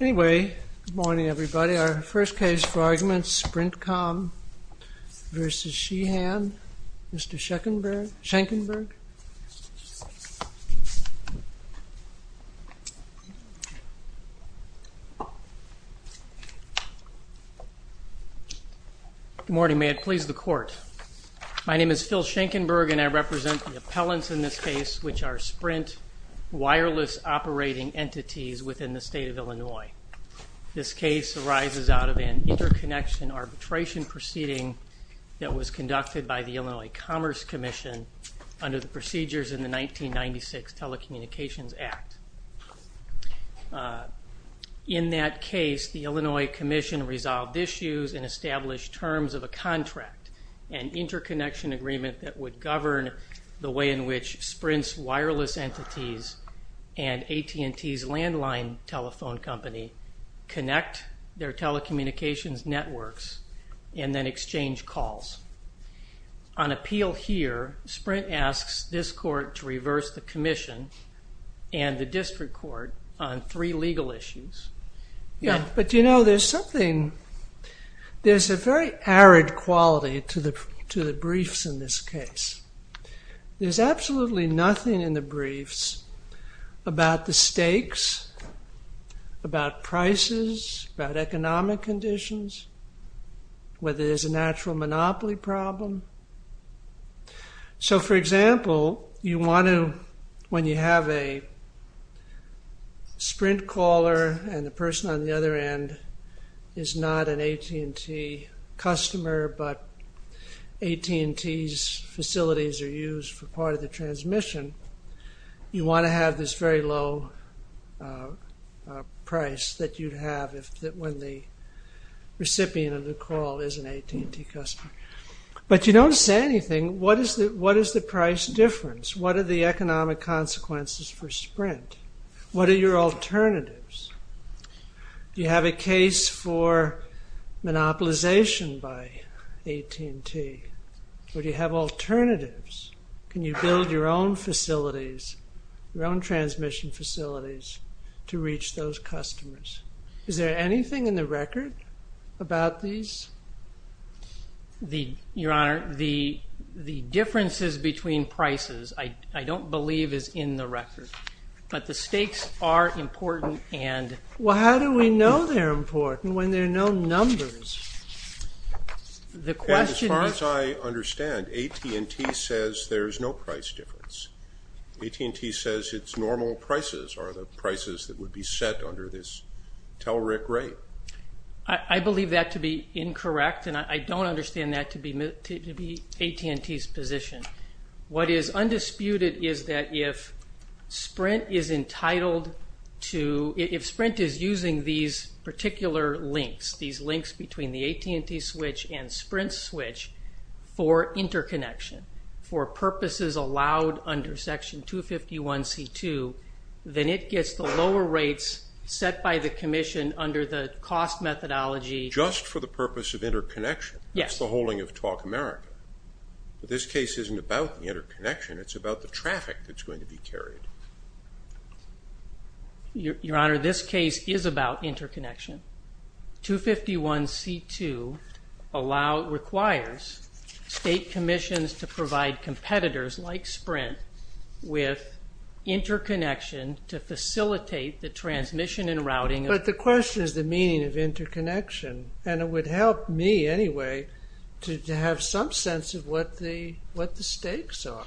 Good morning everybody. Our first case for argument is SprintCom v. Sheahan. Mr. Schenkenberg. Good morning. May it please the Court. My name is Phil Schenkenberg and I represent the appellants in this case, which are Sprint wireless operating entities within the state of Illinois. This case arises out of an interconnection arbitration proceeding that was conducted by the Illinois Commerce Commission under the procedures in the 1996 Telecommunications Act. In that case, the Illinois Commission resolved issues and established terms of a contract, an interconnection agreement that would govern the way in which Sprint's wireless entities and AT&T's landline telephone company connect their telecommunications networks and then exchange calls. On appeal here, Sprint asks this court to reverse the commission and the district court on three legal issues. There's a very arid quality to the briefs in this case. There's absolutely nothing in the briefs about the stakes, about prices, about economic conditions, whether there's a natural monopoly problem. For example, when you have a Sprint caller and the person on the other end is not an AT&T customer but AT&T's facilities are used for part of the transmission, you want to have this very low price that you'd have when the You don't say anything. What is the price difference? What are the economic consequences for Sprint? What are your alternatives? Do you have a case for monopolization by AT&T or do you have alternatives? Can you build your own facilities, your own transmission facilities to reach those customers? Is there anything in the record about these? Your Honor, the differences between prices I don't believe is in the record, but the stakes are important and Well, how do we know they're important when there are no numbers? As far as I understand, AT&T says there is no price difference. AT&T says its normal prices are the prices that would be set under this TELRIC rate. I believe that to be incorrect and I don't understand that to be AT&T's position. What is undisputed is that if Sprint is entitled to, if Sprint is using these particular links, these links between the AT&T switch and Sprint's switch for interconnection, for purposes allowed under Section 251C2, then it gets the lower rates set by the Commission under the cost methodology Just for the purpose of interconnection? Yes. That's the whole thing of Talk America. This case isn't about interconnection, it's about the traffic that's going to be carried. Your Honor, this case is about interconnection. Section 251C2 requires state commissions to provide competitors like Sprint with interconnection to facilitate the transmission and routing But the question is the meaning of interconnection and it would help me anyway to have some sense of what the stakes are.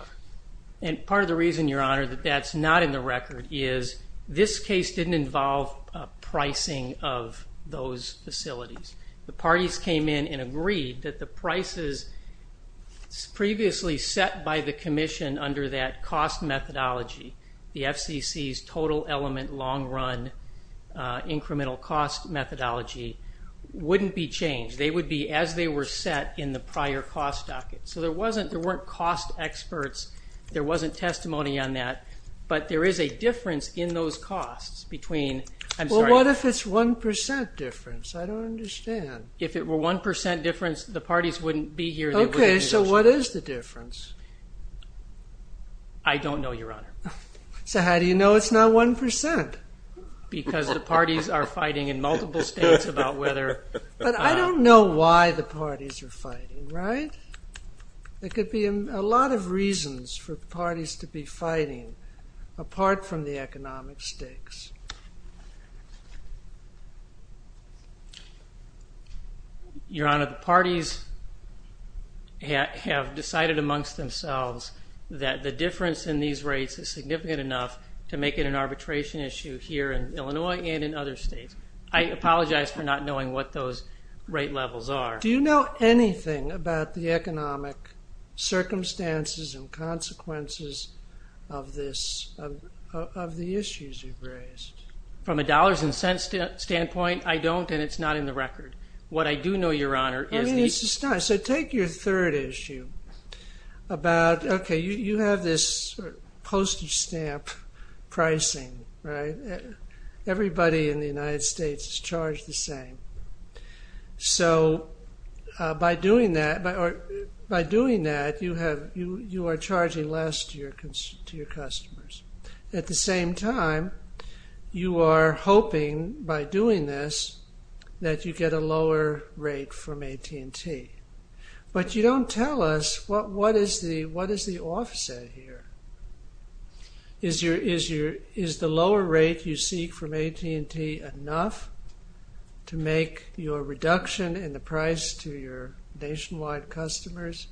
Part of the reason, Your Honor, that that's not in the record is this case didn't involve pricing of those facilities. The parties came in and agreed that the prices previously set by the Commission under that cost methodology, the FCC's total element long run incremental cost methodology, wouldn't be changed. They would be as they were set in the prior cost docket. So there weren't cost experts, there wasn't testimony on that, but there is a difference in those costs between Well, what if it's 1% difference? I don't understand. If it were 1% difference, the parties wouldn't be here. Okay, so what is the difference? I don't know, Your Honor. So how do you know it's not 1%? Because the parties are fighting in multiple states about whether But I don't know why the parties are fighting, right? There could be a lot of reasons for parties to be fighting apart from the economic stakes. Your Honor, the parties have decided amongst themselves that the difference in these rates is significant enough to make it an arbitration issue here in Illinois and in other states. I apologize for not knowing what those rate levels are. Do you know anything about the economic circumstances and consequences of the issues you've raised? From a dollars and cents standpoint, I don't and it's not in the record. What I do know, Your Honor, is that So take your third issue about, okay, you have this postage stamp pricing, right? Everybody in the United States is charged the same. So by doing that, you are charging less to your customers. At the same time, you are hoping by doing this that you get a lower rate from AT&T. But you don't tell us, what is the offset here? Is the lower rate you seek from AT&T enough to make your reduction in the price to your nationwide customers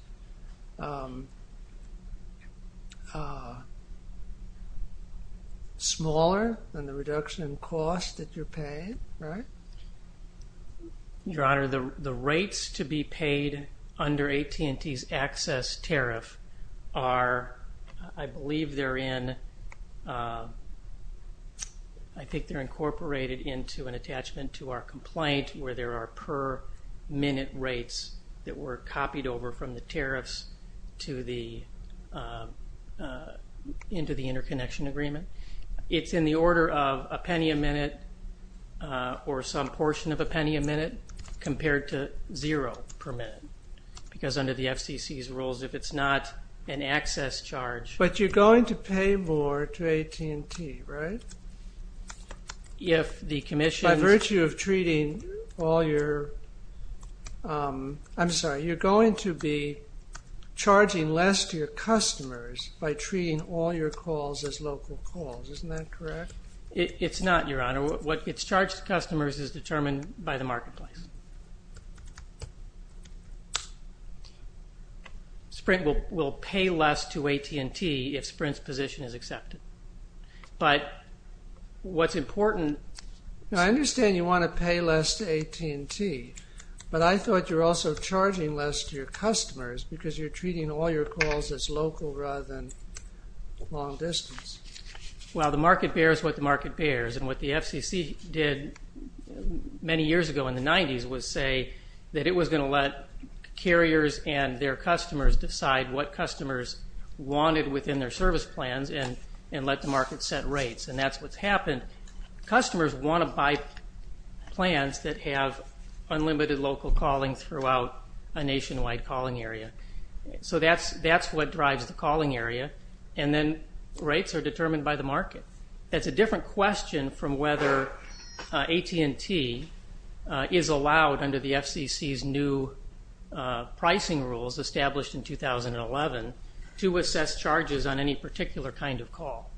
smaller than the reduction in cost that you're paying, right? Your Honor, the rates to be paid under AT&T's access tariff are, I believe they're in, I think they're incorporated into an attachment to our complaint where there are per minute rates that were copied over from the tariffs into the interconnection agreement. It's in the order of a penny a minute or some portion of a penny a minute compared to zero per minute because under the FCC's rules, if it's not an access charge But you're going to pay more to AT&T, right? If the commission By virtue of treating all your, I'm sorry, you're going to be charging less to your customers by treating all your calls as local calls. Isn't that correct? It's not, Your Honor. What gets charged to customers is determined by the marketplace. Sprint will pay less to AT&T if Sprint's position is accepted. But what's important I understand you want to pay less to AT&T, but I thought you were also charging less to your customers because you're treating all your calls as local rather than long distance. Well, the market bears what the market bears, and what the FCC did many years ago in the 90s was say that it was going to let carriers and their customers decide what customers wanted within their service plans and let the market set rates, and that's what's happened. Customers want to buy plans that have unlimited local calling throughout a nationwide calling area. So that's what drives the calling area, and then rates are determined by the market. That's a different question from whether AT&T is allowed under the FCC's new pricing rules established in 2011 to assess charges on any particular kind of call.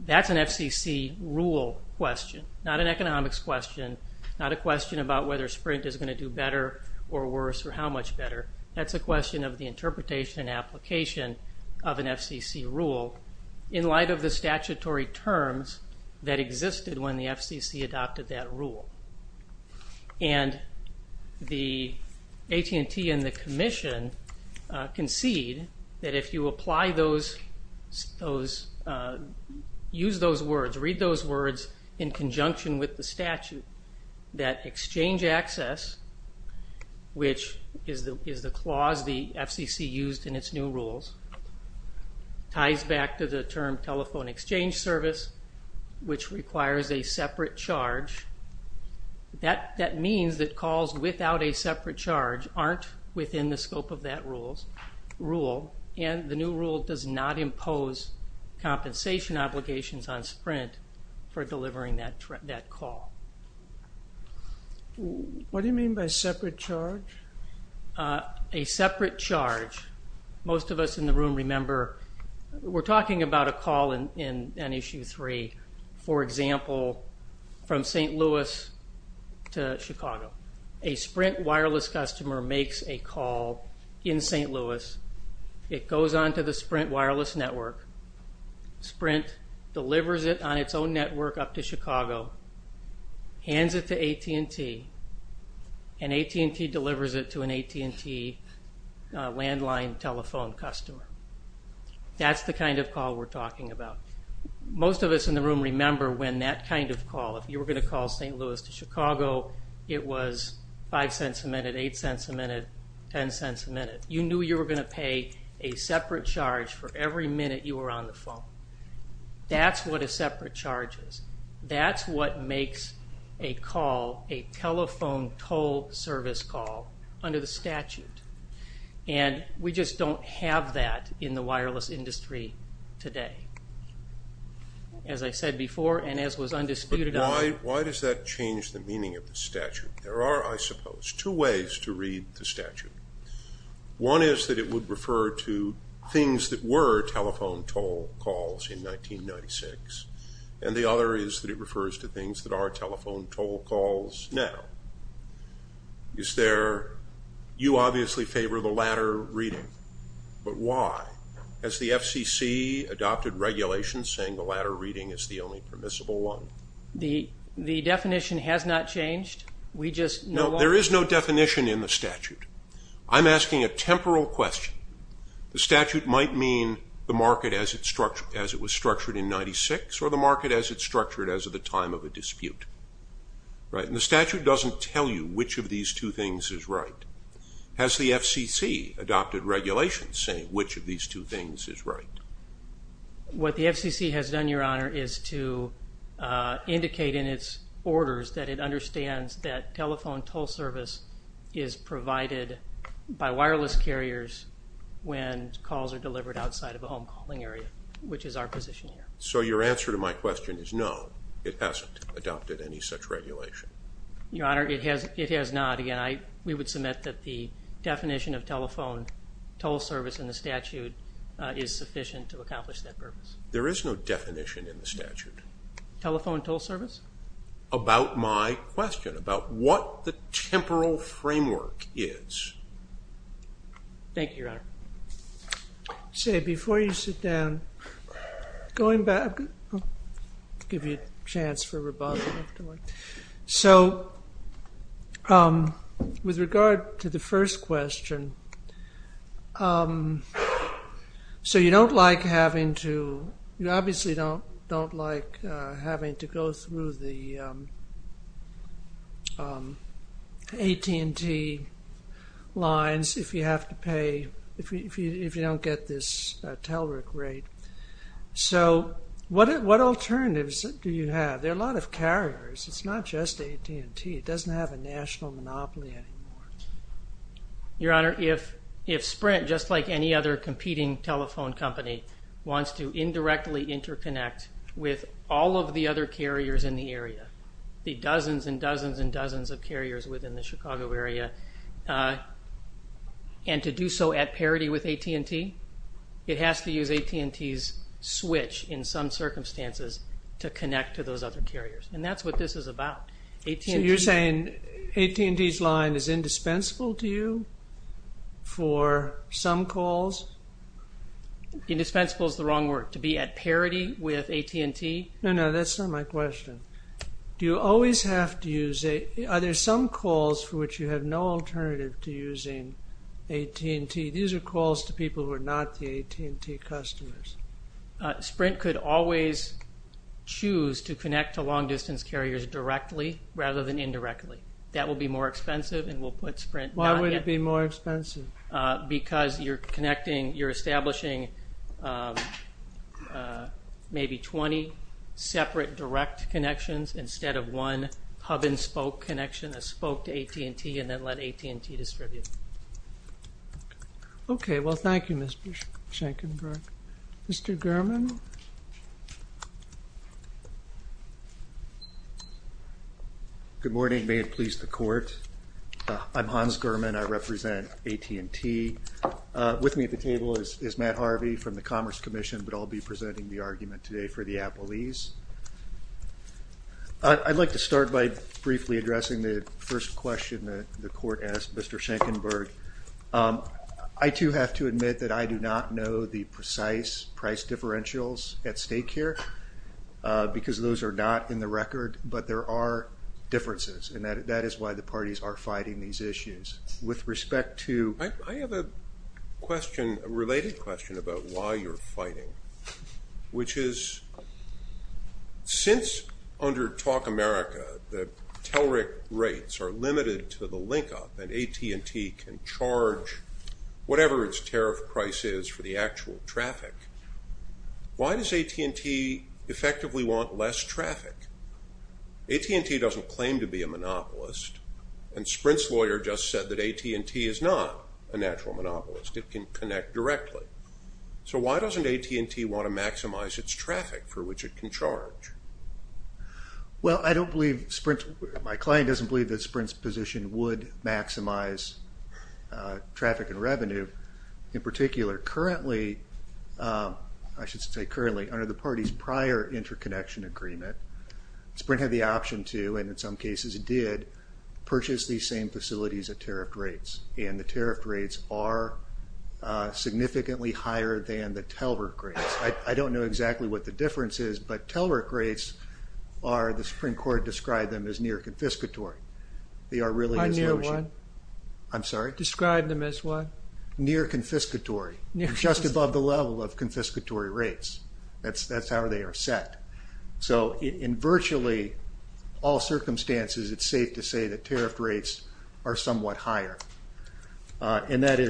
That's an FCC rule question, not an economics question, not a question about whether Sprint is going to do better or worse or how much better. That's a question of the interpretation and application of an FCC rule in light of the statutory terms that existed when the FCC adopted that rule. And the AT&T and the Commission concede that if you use those words, read those words in conjunction with the statute, that exchange access, which is the clause the FCC used in its new rules, ties back to the term telephone exchange service, which requires a separate charge. That means that calls without a separate charge aren't within the scope of that rule, and the new rule does not impose compensation obligations on Sprint for delivering that call. What do you mean by separate charge? A separate charge. Most of us in the room remember we're talking about a call in Issue 3, for example, from St. Louis to Chicago. A Sprint wireless customer makes a call in St. Louis. It goes on to the Sprint wireless network. Sprint delivers it on its own network up to Chicago, hands it to AT&T, and AT&T delivers it to an AT&T landline telephone customer. That's the kind of call we're talking about. Most of us in the room remember when that kind of call, if you were going to call St. Louis to Chicago, it was $0.05 a minute, $0.08 a minute, $0.10 a minute. You knew you were going to pay a separate charge for every minute you were on the phone. That's what a separate charge is. That's what makes a call a telephone toll service call under the statute, and we just don't have that in the wireless industry today. As I said before and as was undisputed of. Why does that change the meaning of the statute? There are, I suppose, two ways to read the statute. One is that it would refer to things that were telephone toll calls in 1996, and the other is that it refers to things that are telephone toll calls now. You obviously favor the latter reading, but why? Has the FCC adopted regulations saying the latter reading is the only permissible one? The definition has not changed. No, there is no definition in the statute. I'm asking a temporal question. The statute might mean the market as it was structured in 1996 or the market as it's structured as of the time of a dispute. The statute doesn't tell you which of these two things is right. Has the FCC adopted regulations saying which of these two things is right? What the FCC has done, Your Honor, is to indicate in its orders that it understands that telephone toll service is provided by wireless carriers when calls are delivered outside of a home calling area, which is our position here. So your answer to my question is no, it hasn't adopted any such regulation. Your Honor, it has not. Again, we would submit that the definition of telephone toll service in the statute is sufficient to accomplish that purpose. There is no definition in the statute. Telephone toll service? About my question, about what the temporal framework is. Thank you, Your Honor. Say, before you sit down, going back, I'll give you a chance for rebuttal if you like. So, with regard to the first question, so you don't like having to, you obviously don't like having to go through the AT&T lines if you have to pay, if you don't get this TELRIC rate. So what alternatives do you have? There are a lot of carriers. It's not just AT&T. It doesn't have a national monopoly anymore. Your Honor, if Sprint, just like any other competing telephone company, wants to indirectly interconnect with all of the other carriers in the area, the dozens and dozens and dozens of carriers within the Chicago area, and to do so at parity with AT&T, it has to use AT&T's switch in some circumstances to connect to those other carriers. And that's what this is about. So you're saying AT&T's line is indispensable to you for some calls? Indispensable is the wrong word. To be at parity with AT&T? No, no, that's not my question. Do you always have to use AT&T? Are there some calls for which you have no alternative to using AT&T? These are calls to people who are not the AT&T customers. Sprint could always choose to connect to long-distance carriers directly rather than indirectly. That would be more expensive, and we'll put Sprint not yet. Why would it be more expensive? Because you're establishing maybe 20 separate direct connections instead of one hub-and-spoke connection, a spoke to AT&T, and then let AT&T distribute. Okay. Well, thank you, Mr. Shankenberg. Mr. Gurman? Good morning. May it please the Court. I'm Hans Gurman. I represent AT&T. With me at the table is Matt Harvey from the Commerce Commission, but I'll be presenting the argument today for the Appleese. I'd like to start by briefly addressing the first question that the Court asked Mr. Shankenberg. I, too, have to admit that I do not know the precise price differentials at stake here because those are not in the record, but there are differences, and that is why the parties are fighting these issues. I have a related question about why you're fighting, which is since, under Talk America, the TELRIC rates are limited to the link-up and AT&T can charge whatever its tariff price is for the actual traffic, why does AT&T effectively want less traffic? AT&T doesn't claim to be a monopolist, and Sprint's lawyer just said that AT&T is not a natural monopolist. It can connect directly. So why doesn't AT&T want to maximize its traffic for which it can charge? Well, I don't believe Sprint, my client doesn't believe that Sprint's position would maximize traffic and revenue in particular. Currently, I should say currently, under the party's prior interconnection agreement, Sprint had the option to, and in some cases it did, purchase these same facilities at tariff rates, and the tariff rates are significantly higher than the TELRIC rates. I don't know exactly what the difference is, but TELRIC rates are, the Supreme Court described them as near-confiscatory. They are really as low as you. Near what? I'm sorry? Describe them as what? Near-confiscatory. Just above the level of confiscatory rates. That's how they are set. So in virtually all circumstances, it's safe to say that tariff rates are somewhat higher, and that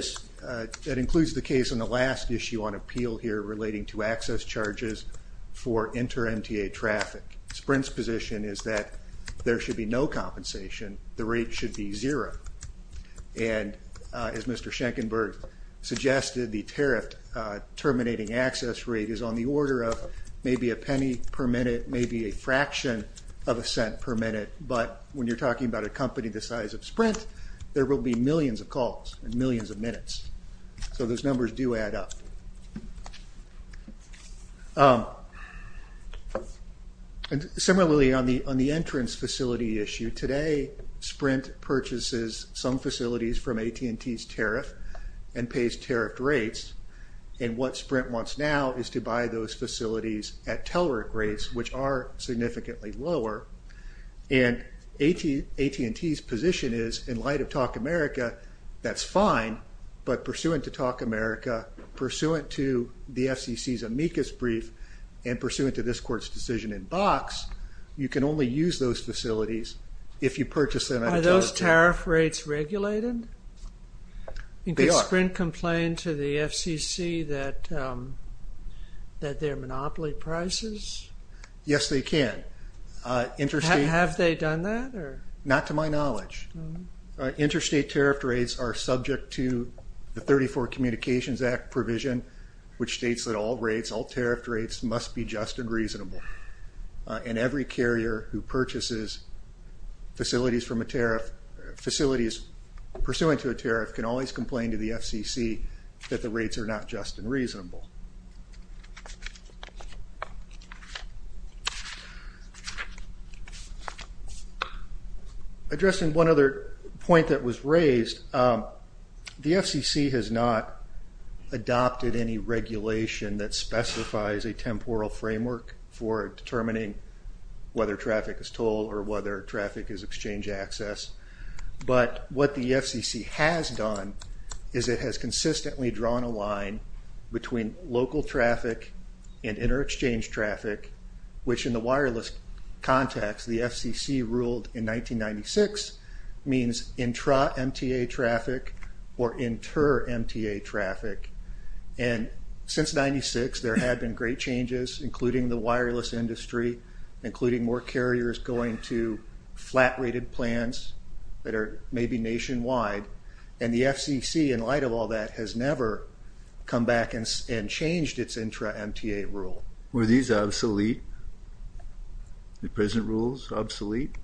includes the case in the last issue on appeal here relating to access charges for inter-MTA traffic. Sprint's position is that there should be no compensation, the rate should be zero, and as Mr. Schenkenberg suggested, the tariff terminating access rate is on the order of maybe a penny per minute, maybe a fraction of a cent per minute, but when you're talking about a company the size of Sprint, there will be millions of calls and millions of minutes. So those numbers do add up. Similarly, on the entrance facility issue, today Sprint purchases some facilities from AT&T's tariff and pays tariff rates, and what Sprint wants now is to buy those facilities at Telerik rates, which are significantly lower, and AT&T's position is in light of Talk America, that's fine, but pursuant to Talk America, pursuant to the FCC's amicus brief, and pursuant to this court's decision in box, you can only use those facilities if you purchase them at AT&T. Are those tariff rates regulated? They are. Can Sprint complain to the FCC that they're monopoly prices? Yes, they can. Have they done that? Not to my knowledge. Interstate tariff rates are subject to the 34 Communications Act provision, which states that all rates, all tariff rates, must be just and reasonable, and every carrier who purchases facilities from a tariff, facilities pursuant to a tariff, can always complain to the FCC that the rates are not just and reasonable. Addressing one other point that was raised, the FCC has not adopted any regulation that specifies a temporal framework for determining whether traffic is toll or whether traffic is exchange access, but what the FCC has done is it has consistently drawn a line between local traffic and inter-exchange traffic, which in the wireless context, the FCC ruled in 1996, means intra-MTA traffic or inter-MTA traffic. Since 1996, there have been great changes, including the wireless industry, including more carriers going to flat-rated plans that are maybe nationwide, and the FCC, in light of all that, has never come back and changed its intra-MTA rule. Were these obsolete, the present rules, obsolete?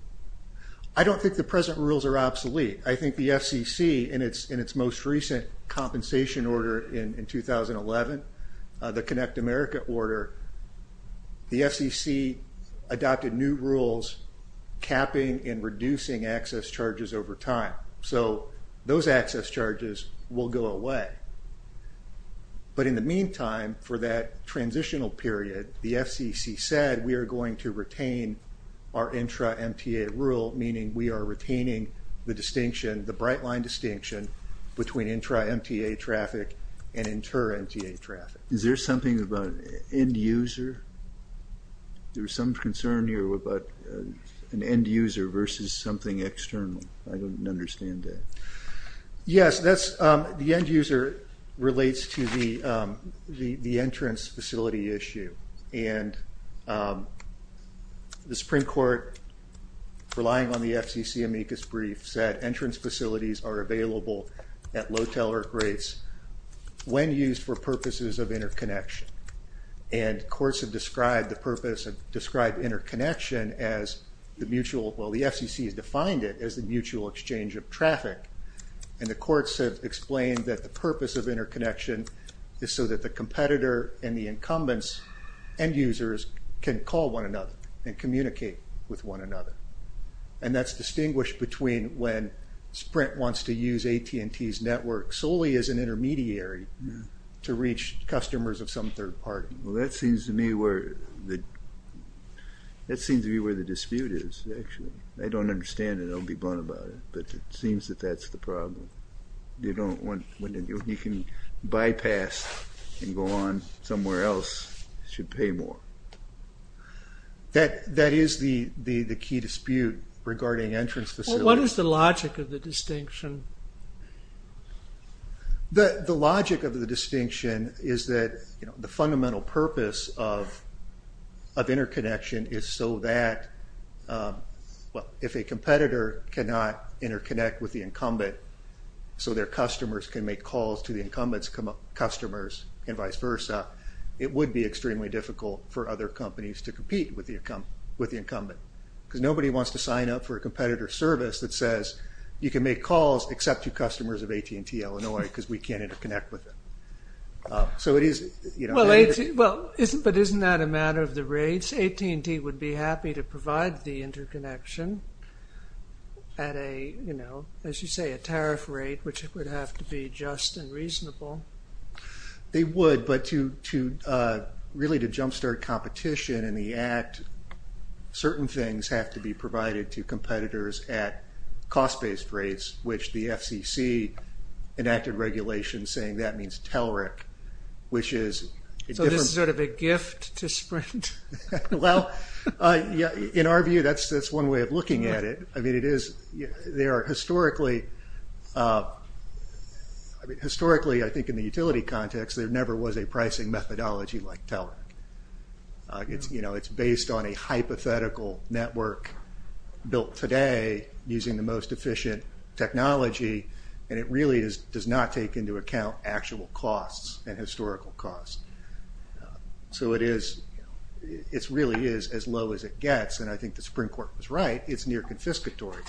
I don't think the present rules are obsolete. I agree. I think the FCC, in its most recent compensation order in 2011, the Connect America order, the FCC adopted new rules capping and reducing access charges over time. So those access charges will go away. But in the meantime, for that transitional period, the FCC said we are going to retain our intra-MTA rule, meaning we are retaining the distinction, the bright line distinction, between intra-MTA traffic and inter-MTA traffic. Is there something about an end user? There was some concern here about an end user versus something external. I don't understand that. Yes, the end user relates to the entrance facility issue, and the Supreme Court, relying on the FCC amicus brief, said entrance facilities are available at low teller rates when used for purposes of interconnection. And courts have described the purpose of interconnection as the mutual, well, the FCC has defined it as the mutual exchange of traffic. And the courts have explained that the purpose of interconnection is so that the competitor and the incumbents, end users, can call one another and communicate with one another. And that's distinguished between when Sprint wants to use AT&T's network solely as an intermediary to reach customers of some third party. Well, that seems to me where the dispute is, actually. I don't understand it. I'll be blunt about it. But it seems that that's the problem. When you can bypass and go on somewhere else, you should pay more. That is the key dispute regarding entrance facilities. What is the logic of the distinction? The logic of the distinction is that the fundamental purpose of interconnection is so that if a competitor cannot interconnect with the incumbent so their customers can make calls to the incumbent's customers and vice versa, it would be extremely difficult for other companies to compete with the incumbent. Because nobody wants to sign up for a competitor service that says you can make calls except to customers of AT&T Illinois because we can't interconnect with them. Well, but isn't that a matter of the rates? AT&T would be happy to provide the interconnection at a, as you say, a tariff rate, which would have to be just and reasonable. They would, but really to jumpstart competition in the act, certain things have to be provided to competitors at cost-based rates, which the FCC enacted regulations saying that means TELRIC, which is a different... So this is sort of a gift to Sprint? Well, in our view, that's one way of looking at it. I mean, historically, I think in the utility context, there never was a pricing methodology like TELRIC. It's based on a hypothetical network built today using the most efficient technology, and it really does not take into account actual costs and historical costs. So it really is as low as it gets, and I think the Supreme Court was right. It's near-confiscatory.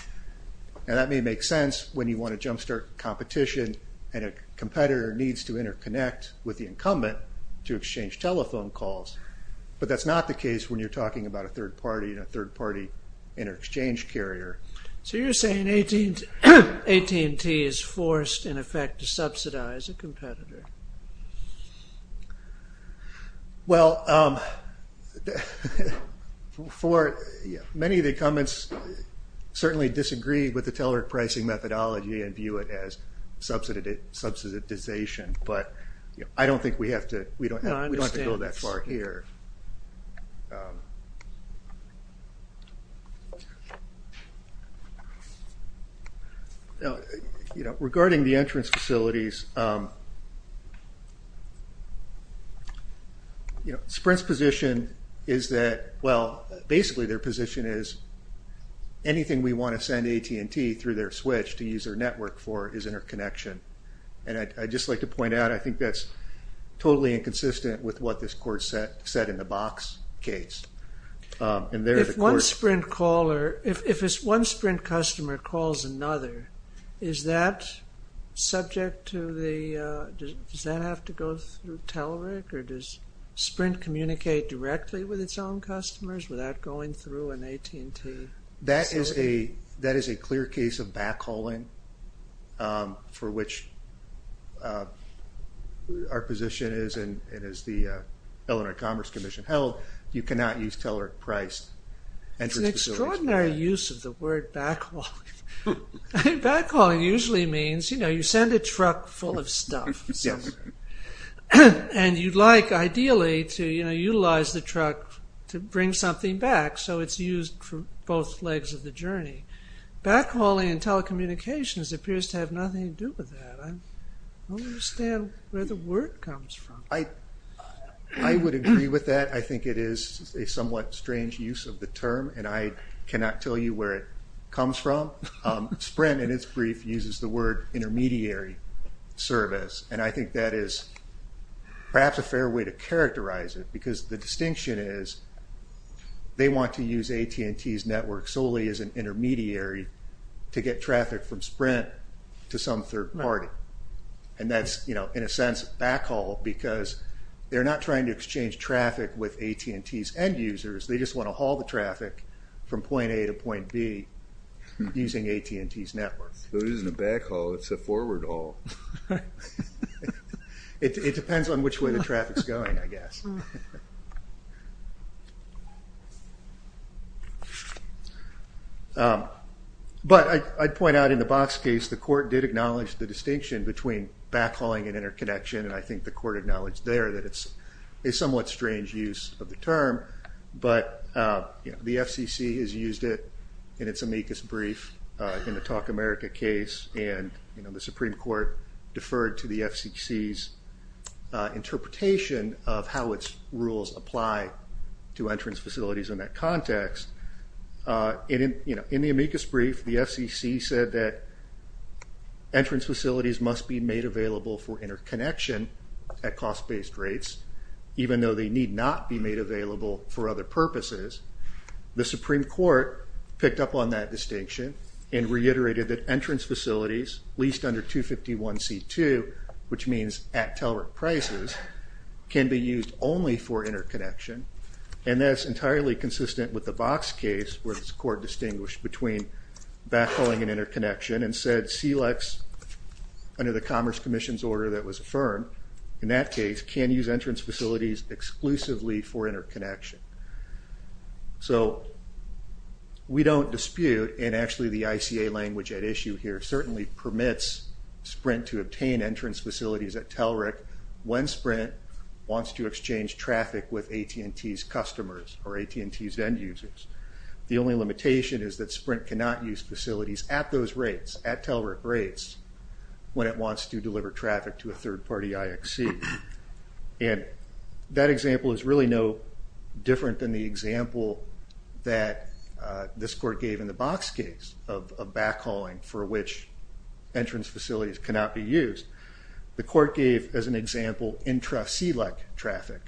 Now, that may make sense when you want to jumpstart competition and a competitor needs to interconnect with the incumbent to exchange telephone calls, but that's not the case when you're talking about a third-party inter-exchange carrier. So you're saying AT&T is forced, in effect, to subsidize a competitor? Well, many of the incumbents certainly disagree with the TELRIC pricing methodology and view it as subsidization, but I don't think we have to go that far here. Regarding the entrance facilities, Sprint's position is that, well, basically their position is anything we want to send to AT&T through their switch to use their network for is interconnection, and I'd just like to point out, I think that's totally inconsistent with what this court said in the Box case. If one Sprint customer calls another, is that subject to the, does that have to go through TELRIC, or does Sprint communicate directly with its own customers without going through an AT&T facility? That is a clear case of backhauling for which our position is the Illinois Commerce Commission held. You cannot use TELRIC-priced entrance facilities. It's an extraordinary use of the word backhauling. Backhauling usually means you send a truck full of stuff, and you'd like, ideally, to utilize the truck to bring something back, so it's used for both legs of the journey. Backhauling in telecommunications appears to have nothing to do with that. I don't understand where the word comes from. I would agree with that. I think it is a somewhat strange use of the term, and I cannot tell you where it comes from. Sprint, in its brief, uses the word intermediary service, and I think that is perhaps a fair way to characterize it because the distinction is they want to use AT&T's network solely as an intermediary to get traffic from Sprint to some third party, and that's, in a sense, backhaul, because they're not trying to exchange traffic with AT&T's end users. They just want to haul the traffic from point A to point B using AT&T's network. It isn't a backhaul. It's a forward haul. It depends on which way the traffic is going, I guess. But I'd point out in the Box case, the court did acknowledge the distinction between backhauling and interconnection, and I think the court acknowledged there that it's a somewhat strange use of the term, but the FCC has used it in its amicus brief in the Talk America case, and the Supreme Court deferred to the FCC's interpretation of how its rules apply to entrance facilities in that context. In the amicus brief, the FCC said that entrance facilities must be made available for interconnection at cost-based rates, even though they need not be made available for other purposes. The Supreme Court picked up on that distinction and reiterated that entrance facilities leased under 251C2, which means at teller prices, can be used only for interconnection, and that's entirely consistent with the Box case where this court distinguished between backhauling and interconnection and said SELEX, under the Commerce Commission's order that was affirmed, in that case can use entrance facilities exclusively for interconnection. So we don't dispute, and actually the ICA language at issue here certainly permits Sprint to obtain entrance facilities at Tellerick when Sprint wants to exchange traffic with AT&T's customers or AT&T's end users. The only limitation is that Sprint cannot use facilities at those rates, at Tellerick rates, when it wants to deliver traffic to a third-party IXC. And that example is really no different than the example that this court gave in the Box case of backhauling for which entrance facilities cannot be used. The court gave, as an example, intra-SELEC traffic.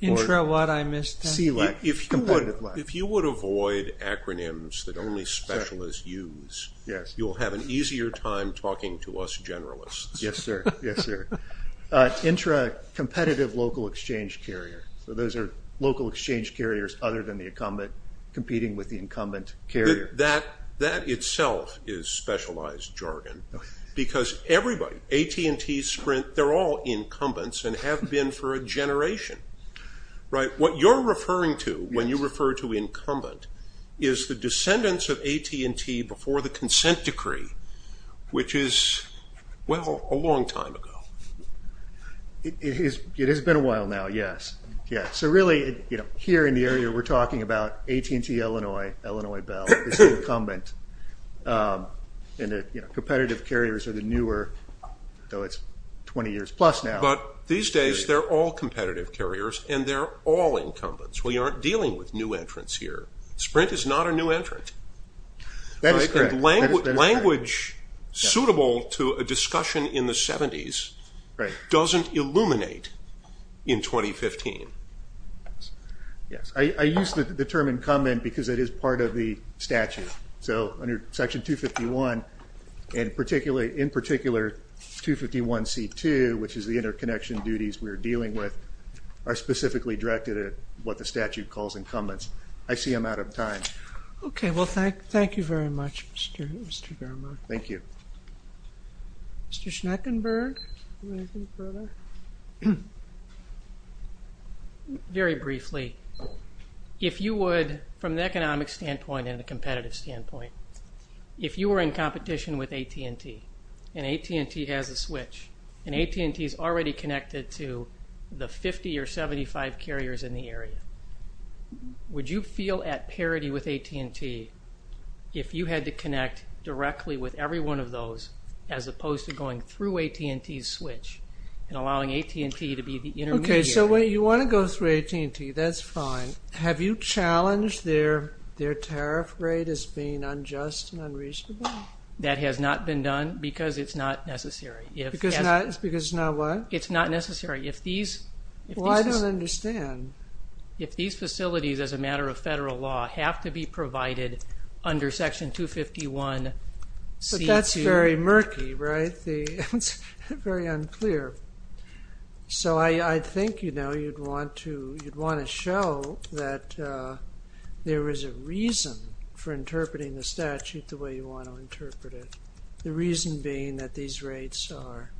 Intra-what? I missed that. SELEC, competitive LEC. If you would avoid acronyms that only specialists use, you'll have an easier time talking to us generalists. Yes, sir. Yes, sir. Intra-competitive local exchange carrier. So those are local exchange carriers other than the incumbent competing with the incumbent carrier. That itself is specialized jargon because everybody, AT&T, Sprint, they're all incumbents and have been for a generation. What you're referring to when you refer to incumbent is the descendants of AT&T before the consent decree, which is, well, a long time ago. It has been a while now, yes. So really, here in the area, we're talking about AT&T Illinois, Illinois Bell is the incumbent. Competitive carriers are the newer, though it's 20 years plus now. But these days they're all competitive carriers and they're all incumbents. We aren't dealing with new entrants here. Sprint is not a new entrant. That is correct. Language suitable to a discussion in the 70s doesn't illuminate in 2015. Yes. I use the term incumbent because it is part of the statute. So under Section 251, in particular, 251C2, which is the interconnection duties we're dealing with, are specifically directed at what the statute calls incumbents. I see I'm out of time. Okay. Well, thank you very much, Mr. Germer. Thank you. Mr. Schneckenberg? Anything further? Very briefly, if you would, from the economic standpoint and the competitive standpoint, if you were in competition with AT&T and AT&T has a switch and AT&T is already connected to the 50 or 75 carriers in the area, would you feel at parity with AT&T if you had to connect directly with every one of those as opposed to going through AT&T's switch and allowing AT&T to be the intermediary? Okay, so you want to go through AT&T. That's fine. Have you challenged their tariff rate as being unjust and unreasonable? That has not been done because it's not necessary. Because it's not what? It's not necessary. Well, I don't understand. If these facilities, as a matter of federal law, have to be provided under Section 251C2. But that's very murky, right? It's very unclear. So I think, you know, you'd want to show that there is a reason for interpreting the statute the way you want to interpret it, the reason being that these rates are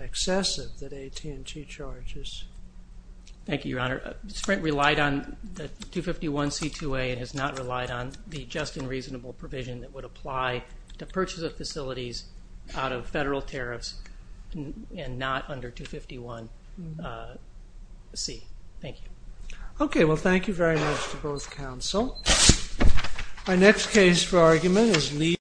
excessive, that AT&T charges. Thank you, Your Honor. Sprint relied on the 251C2A and has not relied on the just and reasonable provision that would apply to purchase of facilities out of federal tariffs and not under 251C. Thank you. Okay, well, thank you very much to both counsel. Our next case for argument is Lee.